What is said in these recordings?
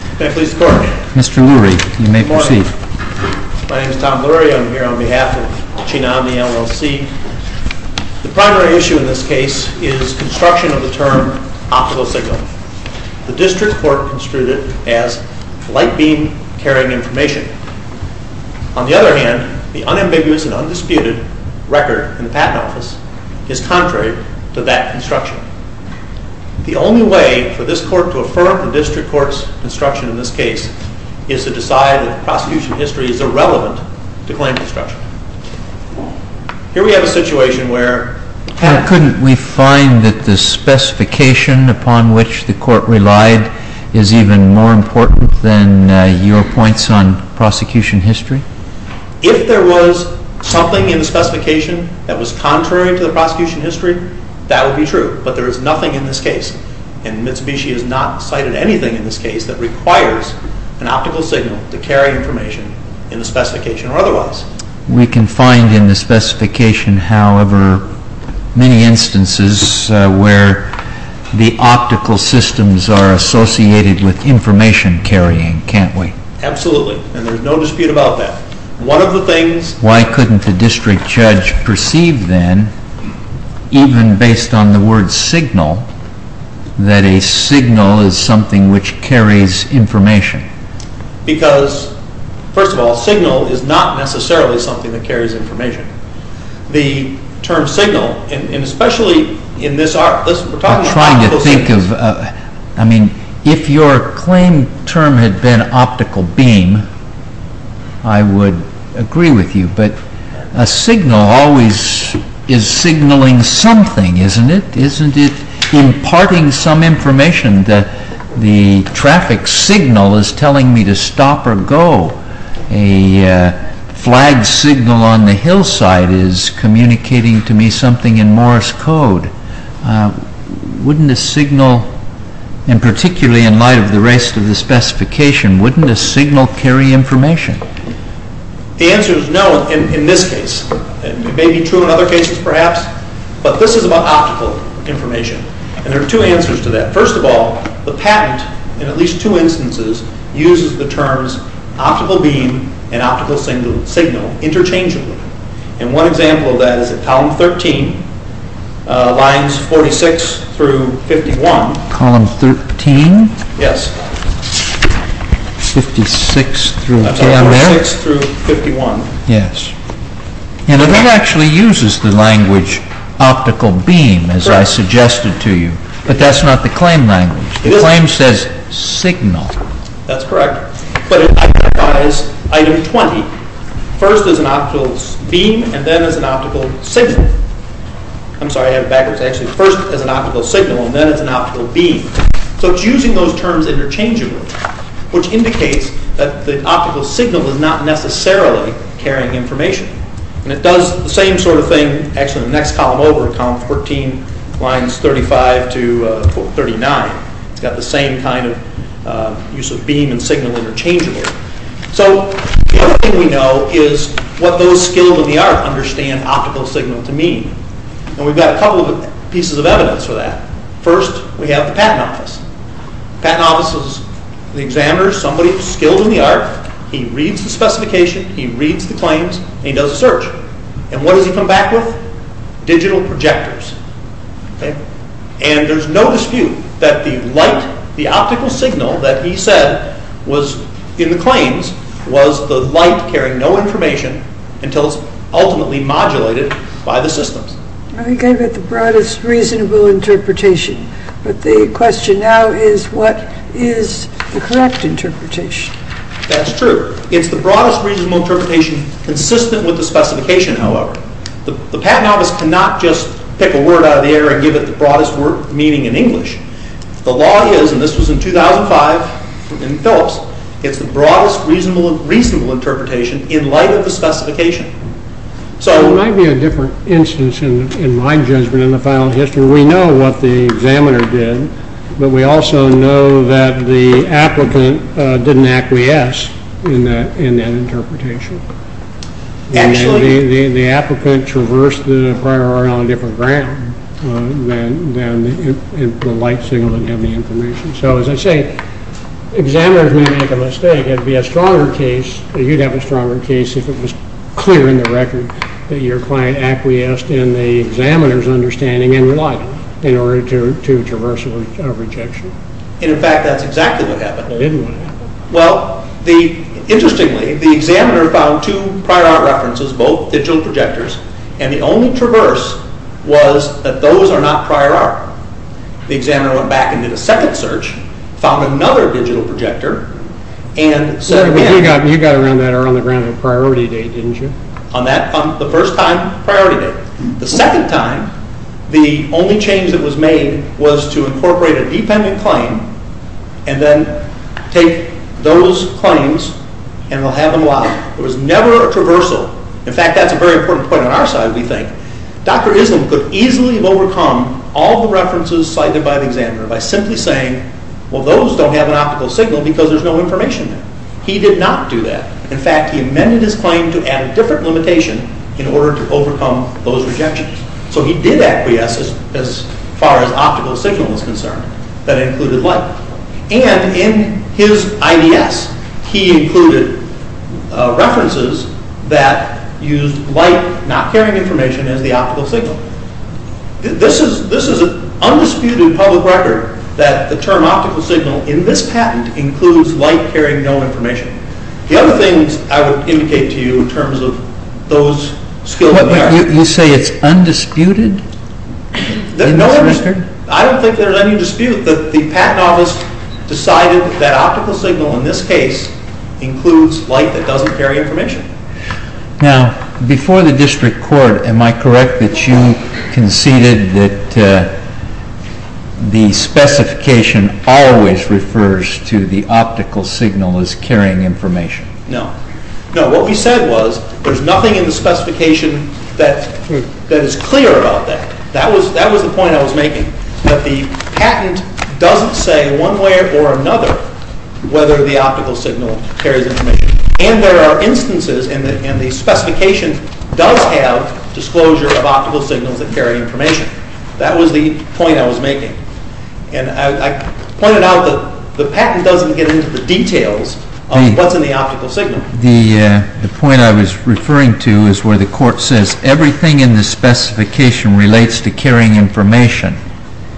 Mr. Lurie, you may proceed. Good morning. My name is Tom Lurie. I'm here on behalf of CHEETAH OMNI LLC. The primary issue in this case is construction of the term optical signal. The District Court construed it as light beam carrying information. On the other hand, the unambiguous and undisputed record in the Patent Office is contrary to that construction. The only way for this Court to affirm the District Court's construction in this case is to decide that the prosecution history is irrelevant to claim construction. Here we have a situation where… Couldn't we find that the specification upon which the Court relied is even more important than your points on prosecution history? If there was something in the specification that was contrary to the prosecution history, that would be true. But there is nothing in this case, and Mitsubishi has not cited anything in this case that requires an optical signal to carry information in the specification or otherwise. We can find in the specification, however, many instances where the optical systems are associated with information carrying, can't we? Absolutely, and there is no dispute about that. Why couldn't the District Judge perceive then, even based on the word signal, that a signal is something which carries information? Because, first of all, signal is not necessarily something that carries information. The term signal, and especially in this… I'm trying to think of… I mean, if your claim term had been optical beam, I would agree with you, but a signal always is signaling something, isn't it? Isn't it imparting some information that the traffic signal is telling me to stop or go? A flag signal on the hillside is communicating to me something in Morse code. Wouldn't a signal, and particularly in light of the rest of the specification, wouldn't a signal carry information? The answer is no in this case. It may be true in other cases, perhaps, but this is about optical information. There are two answers to that. First of all, the patent, in at least two instances, uses the terms optical beam and optical signal interchangeably. One example of that is at column 13, lines 46 through 51. Column 13? Yes. 56 through 51. Yes. And it actually uses the language optical beam, as I suggested to you, but that's not the claim language. The claim says signal. That's correct. But it identifies item 20, first as an optical beam and then as an optical signal. I'm sorry, I have it backwards. Actually, first as an optical signal and then as an optical beam. So it's using those terms interchangeably, which indicates that the optical signal is not necessarily carrying information. And it does the same sort of thing, actually, in the next column over, column 14, lines 35 to 39. It's got the same kind of use of beam and signal interchangeably. So the other thing we know is what those skills in the art understand optical signal to mean. And we've got a couple of pieces of evidence for that. First, we have the patent office. The patent office is the examiner, somebody skilled in the art. He reads the specification, he reads the claims, and he does a search. And what does he come back with? Digital projectors. And there's no dispute that the light, the optical signal that he said was in the claims, was the light carrying no information until it's ultimately modulated by the systems. I think I've got the broadest reasonable interpretation. But the question now is what is the correct interpretation? That's true. It's the broadest reasonable interpretation consistent with the specification, however. The patent office cannot just pick a word out of the air and give it the broadest meaning in English. The law is, and this was in 2005 in Phillips, it's the broadest reasonable interpretation in light of the specification. So there might be a different instance in my judgment in the final history. We know what the examiner did, but we also know that the applicant didn't acquiesce in that interpretation. And the applicant traversed the prior order on a different ground than the light signal didn't have the information. So as I say, examiners may make a mistake. You'd have a stronger case if it was clear in the record that your client acquiesced in the examiner's understanding and relied on it in order to traverse a rejection. And in fact, that's exactly what happened. Well, interestingly, the examiner found two prior art references, both digital projectors, and the only traverse was that those are not prior art. The examiner went back and did a second search, found another digital projector, You got around that around the priority date, didn't you? On the first time, priority date. The second time, the only change that was made was to incorporate a dependent claim and then take those claims and have them locked. There was never a traversal. In fact, that's a very important point on our side, we think. Dr. Islam could easily have overcome all the references cited by the examiner by simply saying, Well, those don't have an optical signal because there's no information there. He did not do that. In fact, he amended his claim to add a different limitation in order to overcome those rejections. So he did acquiesce as far as optical signal was concerned. That included light. And in his IDS, he included references that used light not carrying information as the optical signal. This is an undisputed public record that the term optical signal in this patent includes light carrying no information. The other things I would indicate to you in terms of those skills of the arts. You say it's undisputed? I don't think there's any dispute that the patent office decided that optical signal in this case includes light that doesn't carry information. Now, before the district court, am I correct that you conceded that the specification always refers to the optical signal as carrying information? No. No, what we said was there's nothing in the specification that is clear about that. That was the point I was making. That the patent doesn't say one way or another whether the optical signal carries information. And there are instances in the specification does have disclosure of optical signals that carry information. That was the point I was making. And I pointed out that the patent doesn't get into the details of what's in the optical signal. The point I was referring to is where the court says everything in the specification relates to carrying information.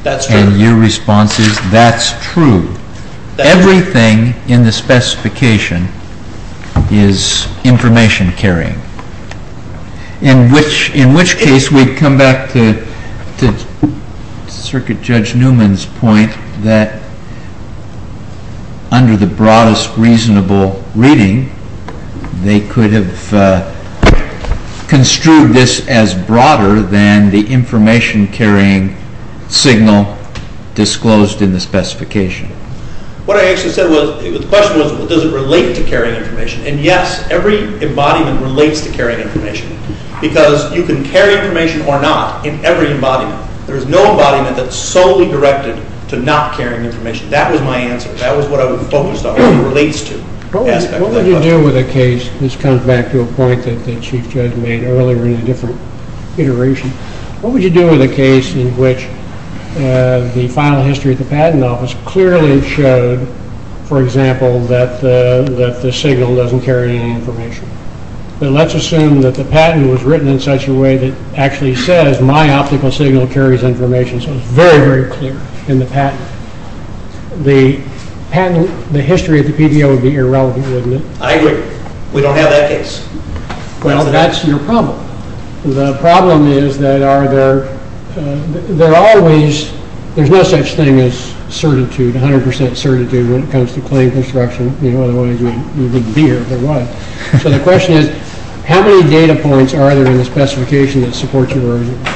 That's true. And your response is that's true. Everything in the specification is information carrying. In which case we come back to Circuit Judge Newman's point that under the broadest reasonable reading, they could have construed this as broader than the information carrying signal disclosed in the specification. What I actually said was, the question was does it relate to carrying information? And yes, every embodiment relates to carrying information because you can carry information or not in every embodiment. There's no embodiment that's solely directed to not carrying information. That was my answer. That was what I was focused on, what it relates to. What would you do with a case, this comes back to a point that the Chief Judge made earlier in a different iteration. What would you do with a case in which the final history of the patent office clearly showed, for example, that the signal doesn't carry any information? But let's assume that the patent was written in such a way that actually says my optical signal carries information so it's very, very clear in the patent. The history of the PDO would be irrelevant, wouldn't it? I agree. We don't have that case. Well, that's your problem. The problem is that there's no such thing as 100% certitude when it comes to claim construction, otherwise you wouldn't be here if there was. So the question is, how many data points are there in the specification that support your argument?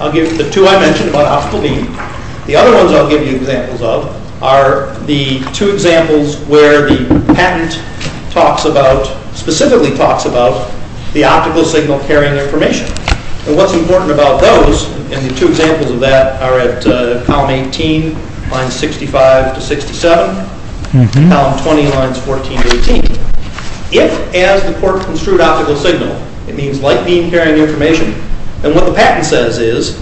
I'll give the two I mentioned about optical reading. The other ones I'll give you examples of are the two examples where the patent specifically talks about the optical signal carrying information. And what's important about those, and the two examples of that are at column 18, lines 65 to 67, and column 20, lines 14 to 18. If, as the court construed optical signal, it means light beam carrying information, then what the patent says is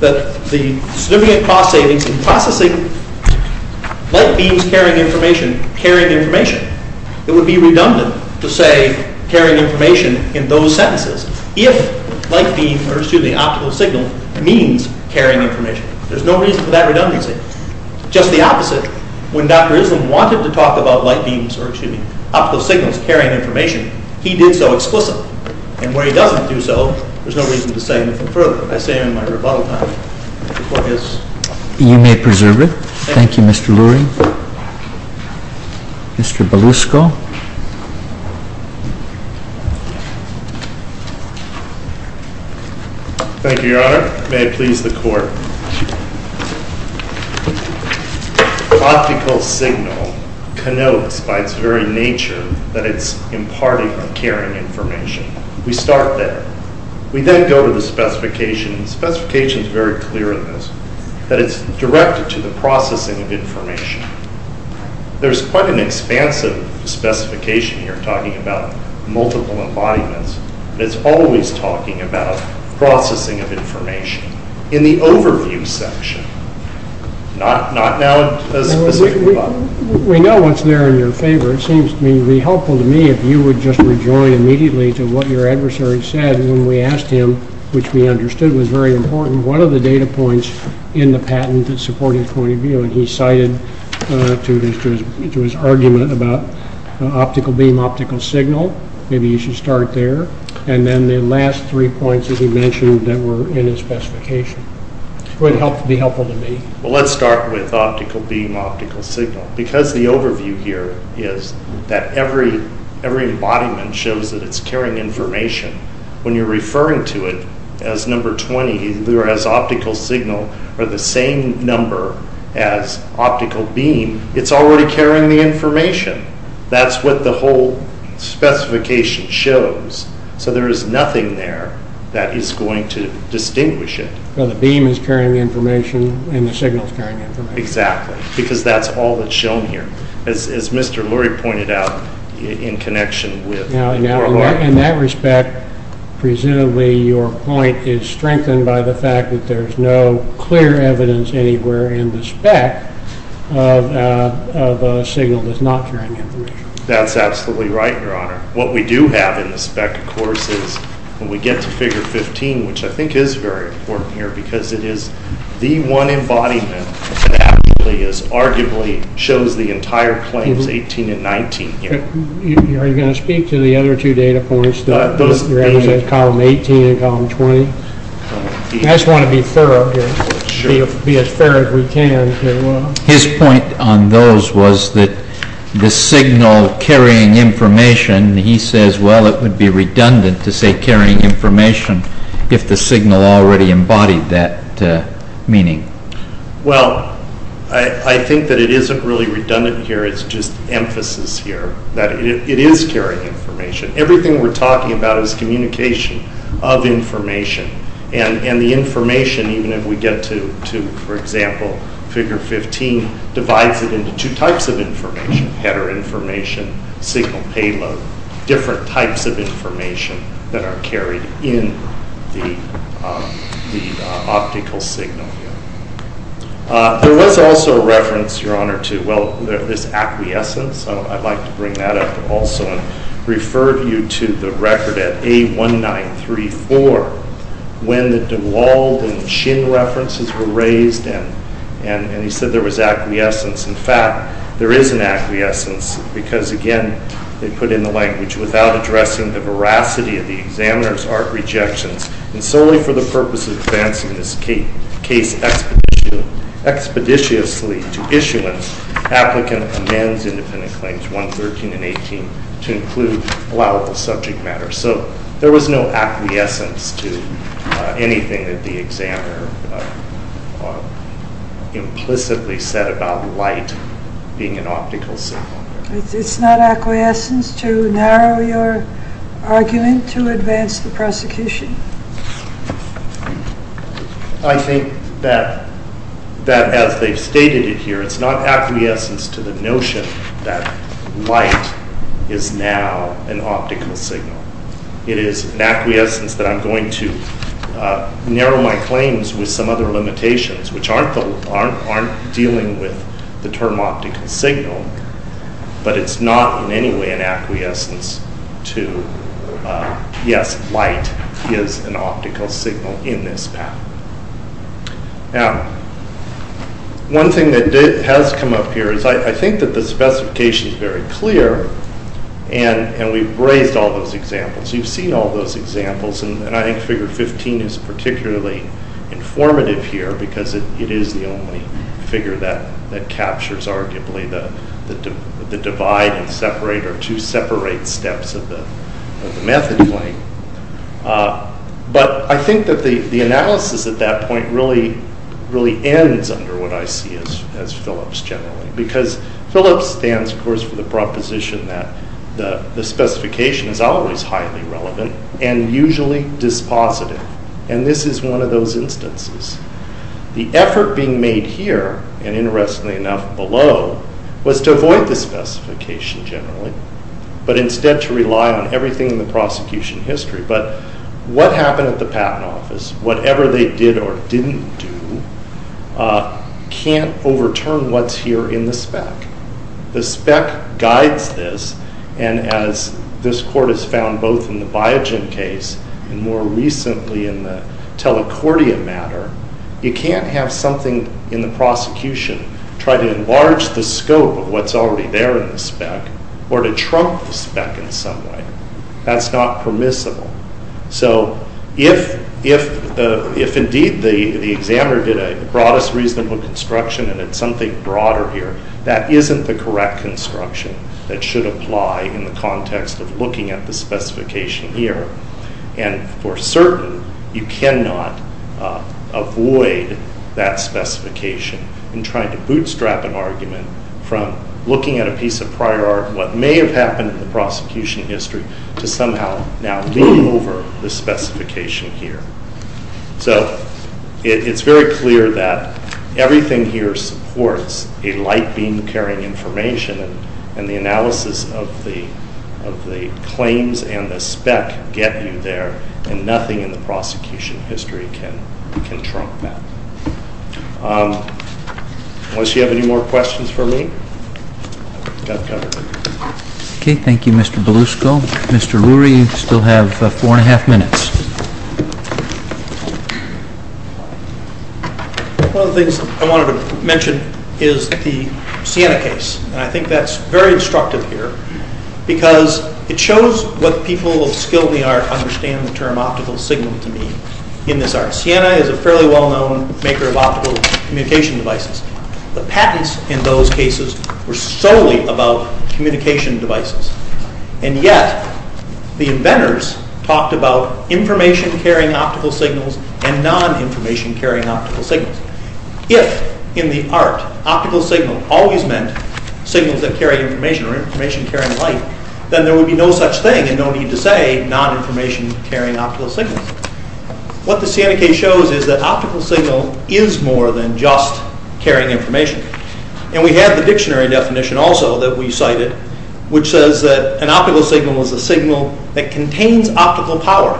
that the significant cost savings in processing light beams carrying information, carrying information, it would be redundant to say carrying information in those sentences if light beam, or excuse me, optical signal means carrying information. Just the opposite, when Dr. Islam wanted to talk about light beams, or excuse me, optical signals carrying information, he did so explicitly. And where he doesn't do so, there's no reason to say anything further. I say in my rebuttal time, the court has... You may preserve it. Thank you, Mr. Lurie. Mr. Belusco. Optical signal connotes, by its very nature, that it's imparting or carrying information. We start there. We then go to the specification. The specification's very clear in this, that it's directed to the processing of information. There's quite an expansive specification here, talking about multiple embodiments, in the overview section, not now a specific... We know what's there in your favor. It seems to me to be helpful to me if you would just rejoin immediately to what your adversary said when we asked him, which we understood was very important, what are the data points in the patent that support his point of view? And he cited to his argument about optical beam, optical signal. Maybe you should start there. And then the last three points that he mentioned that were in his specification. Would be helpful to me. Well, let's start with optical beam, optical signal. Because the overview here is that every embodiment shows that it's carrying information, when you're referring to it as number 20, either as optical signal or the same number as optical beam, it's already carrying the information. That's what the whole specification shows. So there is nothing there that is going to distinguish it. Well, the beam is carrying the information and the signal is carrying the information. Exactly. Because that's all that's shown here. As Mr. Lurie pointed out, in connection with... Now, in that respect, presumably your point is strengthened by the fact that there's no clear evidence anywhere in the spec of a signal that's not carrying information. That's absolutely right, Your Honor. What we do have in the spec, of course, is when we get to figure 15, which I think is very important here, because it is the one embodiment that actually, as arguably shows the entire claims, 18 and 19 here. Are you going to speak to the other two data points, your evidence of column 18 and column 20? I just want to be thorough here, be as thorough as we can. His point on those was that the signal carrying information, he says, well, it would be redundant to say carrying information if the signal already embodied that meaning. Well, I think that it isn't really redundant here, it's just emphasis here, that it is carrying information. Everything we're talking about is communication of information, and the information, even if we get to, for example, figure 15, divides it into two types of information, header information, signal payload, different types of information that are carried in the optical signal here. There was also a reference, Your Honor, to this acquiescence. I'd like to bring that up also and refer you to the record at A1934 when the DeWald and Chin references were raised, and he said there was acquiescence. In fact, there is an acquiescence, because, again, they put in the language, without addressing the veracity of the examiner's art rejections, and solely for the purpose of advancing this case expeditiously to issuance, applicant amends independent claims 113 and 18 to include allowable subject matter. So there was no acquiescence to anything that the examiner implicitly said about light being an optical signal. It's not acquiescence to narrow your argument to advance the prosecution? I think that as they've stated it here, it's not acquiescence to the notion that light is now an optical signal. It is an acquiescence that I'm going to narrow my claims with some other limitations, which aren't dealing with the term optical signal, but it's not in any way an acquiescence to, yes, light is an optical signal in this path. Now, one thing that has come up here is I think that the specification is very clear, and we've raised all those examples. You've seen all those examples, and I think figure 15 is particularly informative here, because it is the only figure that captures arguably the divide and separate or two separate steps of the method claim. But I think that the analysis at that point really ends under what I see as Philips generally, because Philips stands, of course, for the proposition that the specification is always highly relevant and usually dispositive, and this is one of those instances. The effort being made here, and interestingly enough below, was to avoid the specification generally, but instead to rely on everything in the prosecution history. But what happened at the Patent Office, whatever they did or didn't do, can't overturn what's here in the spec. The spec guides this, and as this court has found both in the Biogen case and more recently in the Telecordia matter, you can't have something in the prosecution try to enlarge the scope of what's already there in the spec or to trump the spec in some way. That's not permissible. So if indeed the examiner did a broadest reasonable construction and it's something broader here, that isn't the correct construction that should apply in the context of looking at the specification here. And for certain, you cannot avoid that specification in trying to bootstrap an argument from looking at a piece of prior art, what may have happened in the prosecution history, to somehow now lean over the specification here. So it's very clear that everything here supports a light beam carrying information, and the analysis of the claims and the spec get you there, and nothing in the prosecution history can trump that. Unless you have any more questions for me? Okay, thank you Mr. Belusco. Mr. Ruri, you still have four and a half minutes. One of the things I wanted to mention is the Sienna case, and I think that's very instructive here because it shows what people of skill in the art understand the term optical signal to mean in this art. Sienna is a fairly well-known maker of optical communication devices. The patents in those cases were solely about communication devices, and yet the inventors talked about information-carrying optical signals and non-information-carrying optical signals. If, in the art, optical signal always meant signals that carry information or information carrying light, then there would be no such thing and no need to say non-information-carrying optical signals. What the Sienna case shows is that optical signal is more than just carrying information. And we have the dictionary definition also that we cited, which says that an optical signal is a signal that contains optical power.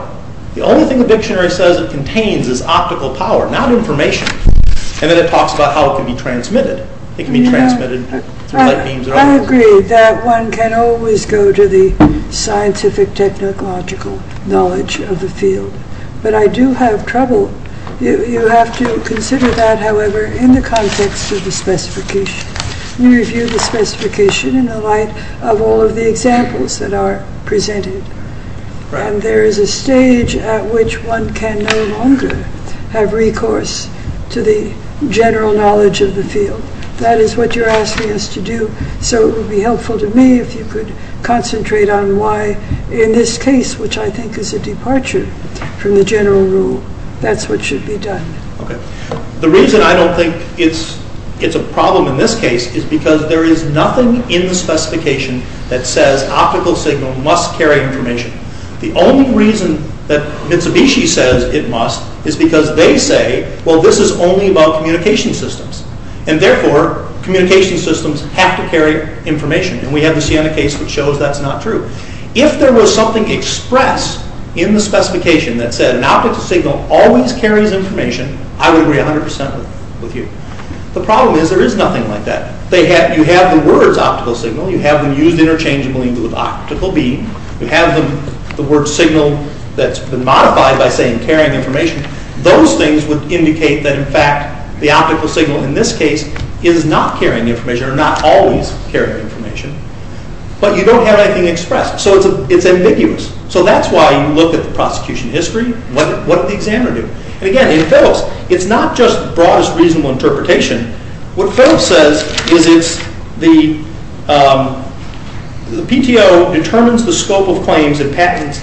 The only thing the dictionary says it contains is optical power, not information. And then it talks about how it can be transmitted. It can be transmitted through light beams and other things. I agree that one can always go to the scientific technological knowledge of the field. But I do have trouble. You have to consider that, however, in the context of the specification. You review the specification in the light of all of the examples that are presented. And there is a stage at which one can no longer have recourse to the general knowledge of the field. That is what you're asking us to do. So it would be helpful to me if you could concentrate on why, in this case, which I think is a departure from the general rule, that's what should be done. The reason I don't think it's a problem in this case is because there is nothing in the specification that says optical signal must carry information. The only reason that Mitsubishi says it must is because they say, well, this is only about communication systems. And therefore, communication systems have to carry information. And we have the Sienna case that shows that's not true. If there was something expressed in the specification that said an optical signal always carries information, I would agree 100% with you. The problem is there is nothing like that. You have the words optical signal. You have them used interchangeably with optical beam. You have the word signal that's been modified by saying carrying information. Those things would indicate that, in fact, the optical signal, in this case, is not carrying information or not always carrying information. But you don't have anything expressed. So it's ambiguous. So that's why you look at the prosecution history. What did the examiner do? And, again, in Phelps, it's not just broadest reasonable interpretation. What Phelps says is the PTO determines the scope of claims and patents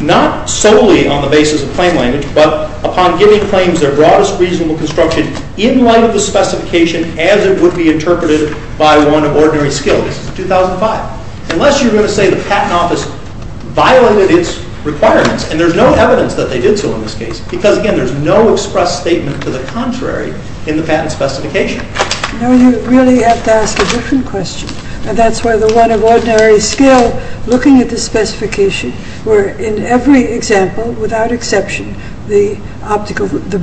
not solely on the basis of claim language, but upon giving claims their broadest reasonable construction in light of the specification as it would be interpreted by one of ordinary skill. This is 2005. Unless you're going to say the Patent Office violated its requirements, and there's no evidence that they did so in this case, because, again, there's no expressed statement to the contrary in the patent specification. No, you really have to ask a different question. And that's why the one of ordinary skill, looking at the specification, where in every example, without exception, the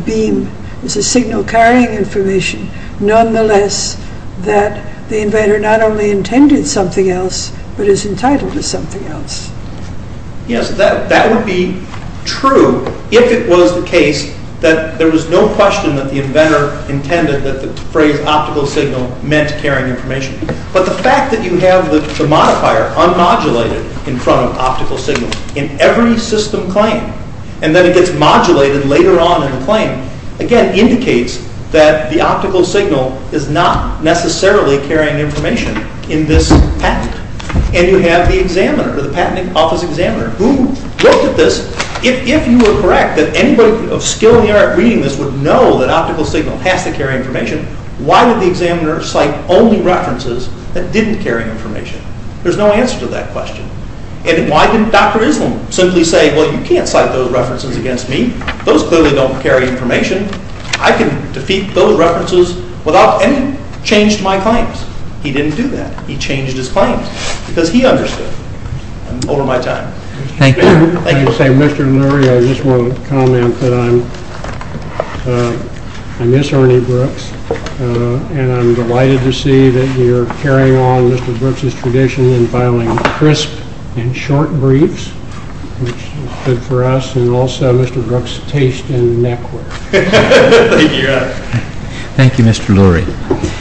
beam is a signal carrying information, nonetheless, that the inventor not only intended something else, but is entitled to something else. Yes, that would be true if it was the case that there was no question that the inventor intended that the phrase optical signal meant carrying information. But the fact that you have the modifier unmodulated in front of optical signal in every system claim, and then it gets modulated later on in the claim, again, indicates that the optical signal is not necessarily carrying information in this patent. And you have the examiner, the Patent Office examiner, who looked at this. If you were correct that anybody of skill in the art reading this would know that optical signal has to carry information, why did the examiner cite only references that didn't carry information? There's no answer to that question. And why didn't Dr. Islam simply say, well, you can't cite those references against me. Those clearly don't carry information. I can defeat those references without any change to my claims. He didn't do that. He changed his claims because he understood. I'm over my time. Thank you. Mr. Lurie, I just want to comment that I miss Ernie Brooks, and I'm delighted to see that you're carrying on Mr. Brooks' tradition in filing crisp and short briefs, which is good for us, and also Mr. Brooks' taste in network. Thank you, Mr. Lurie.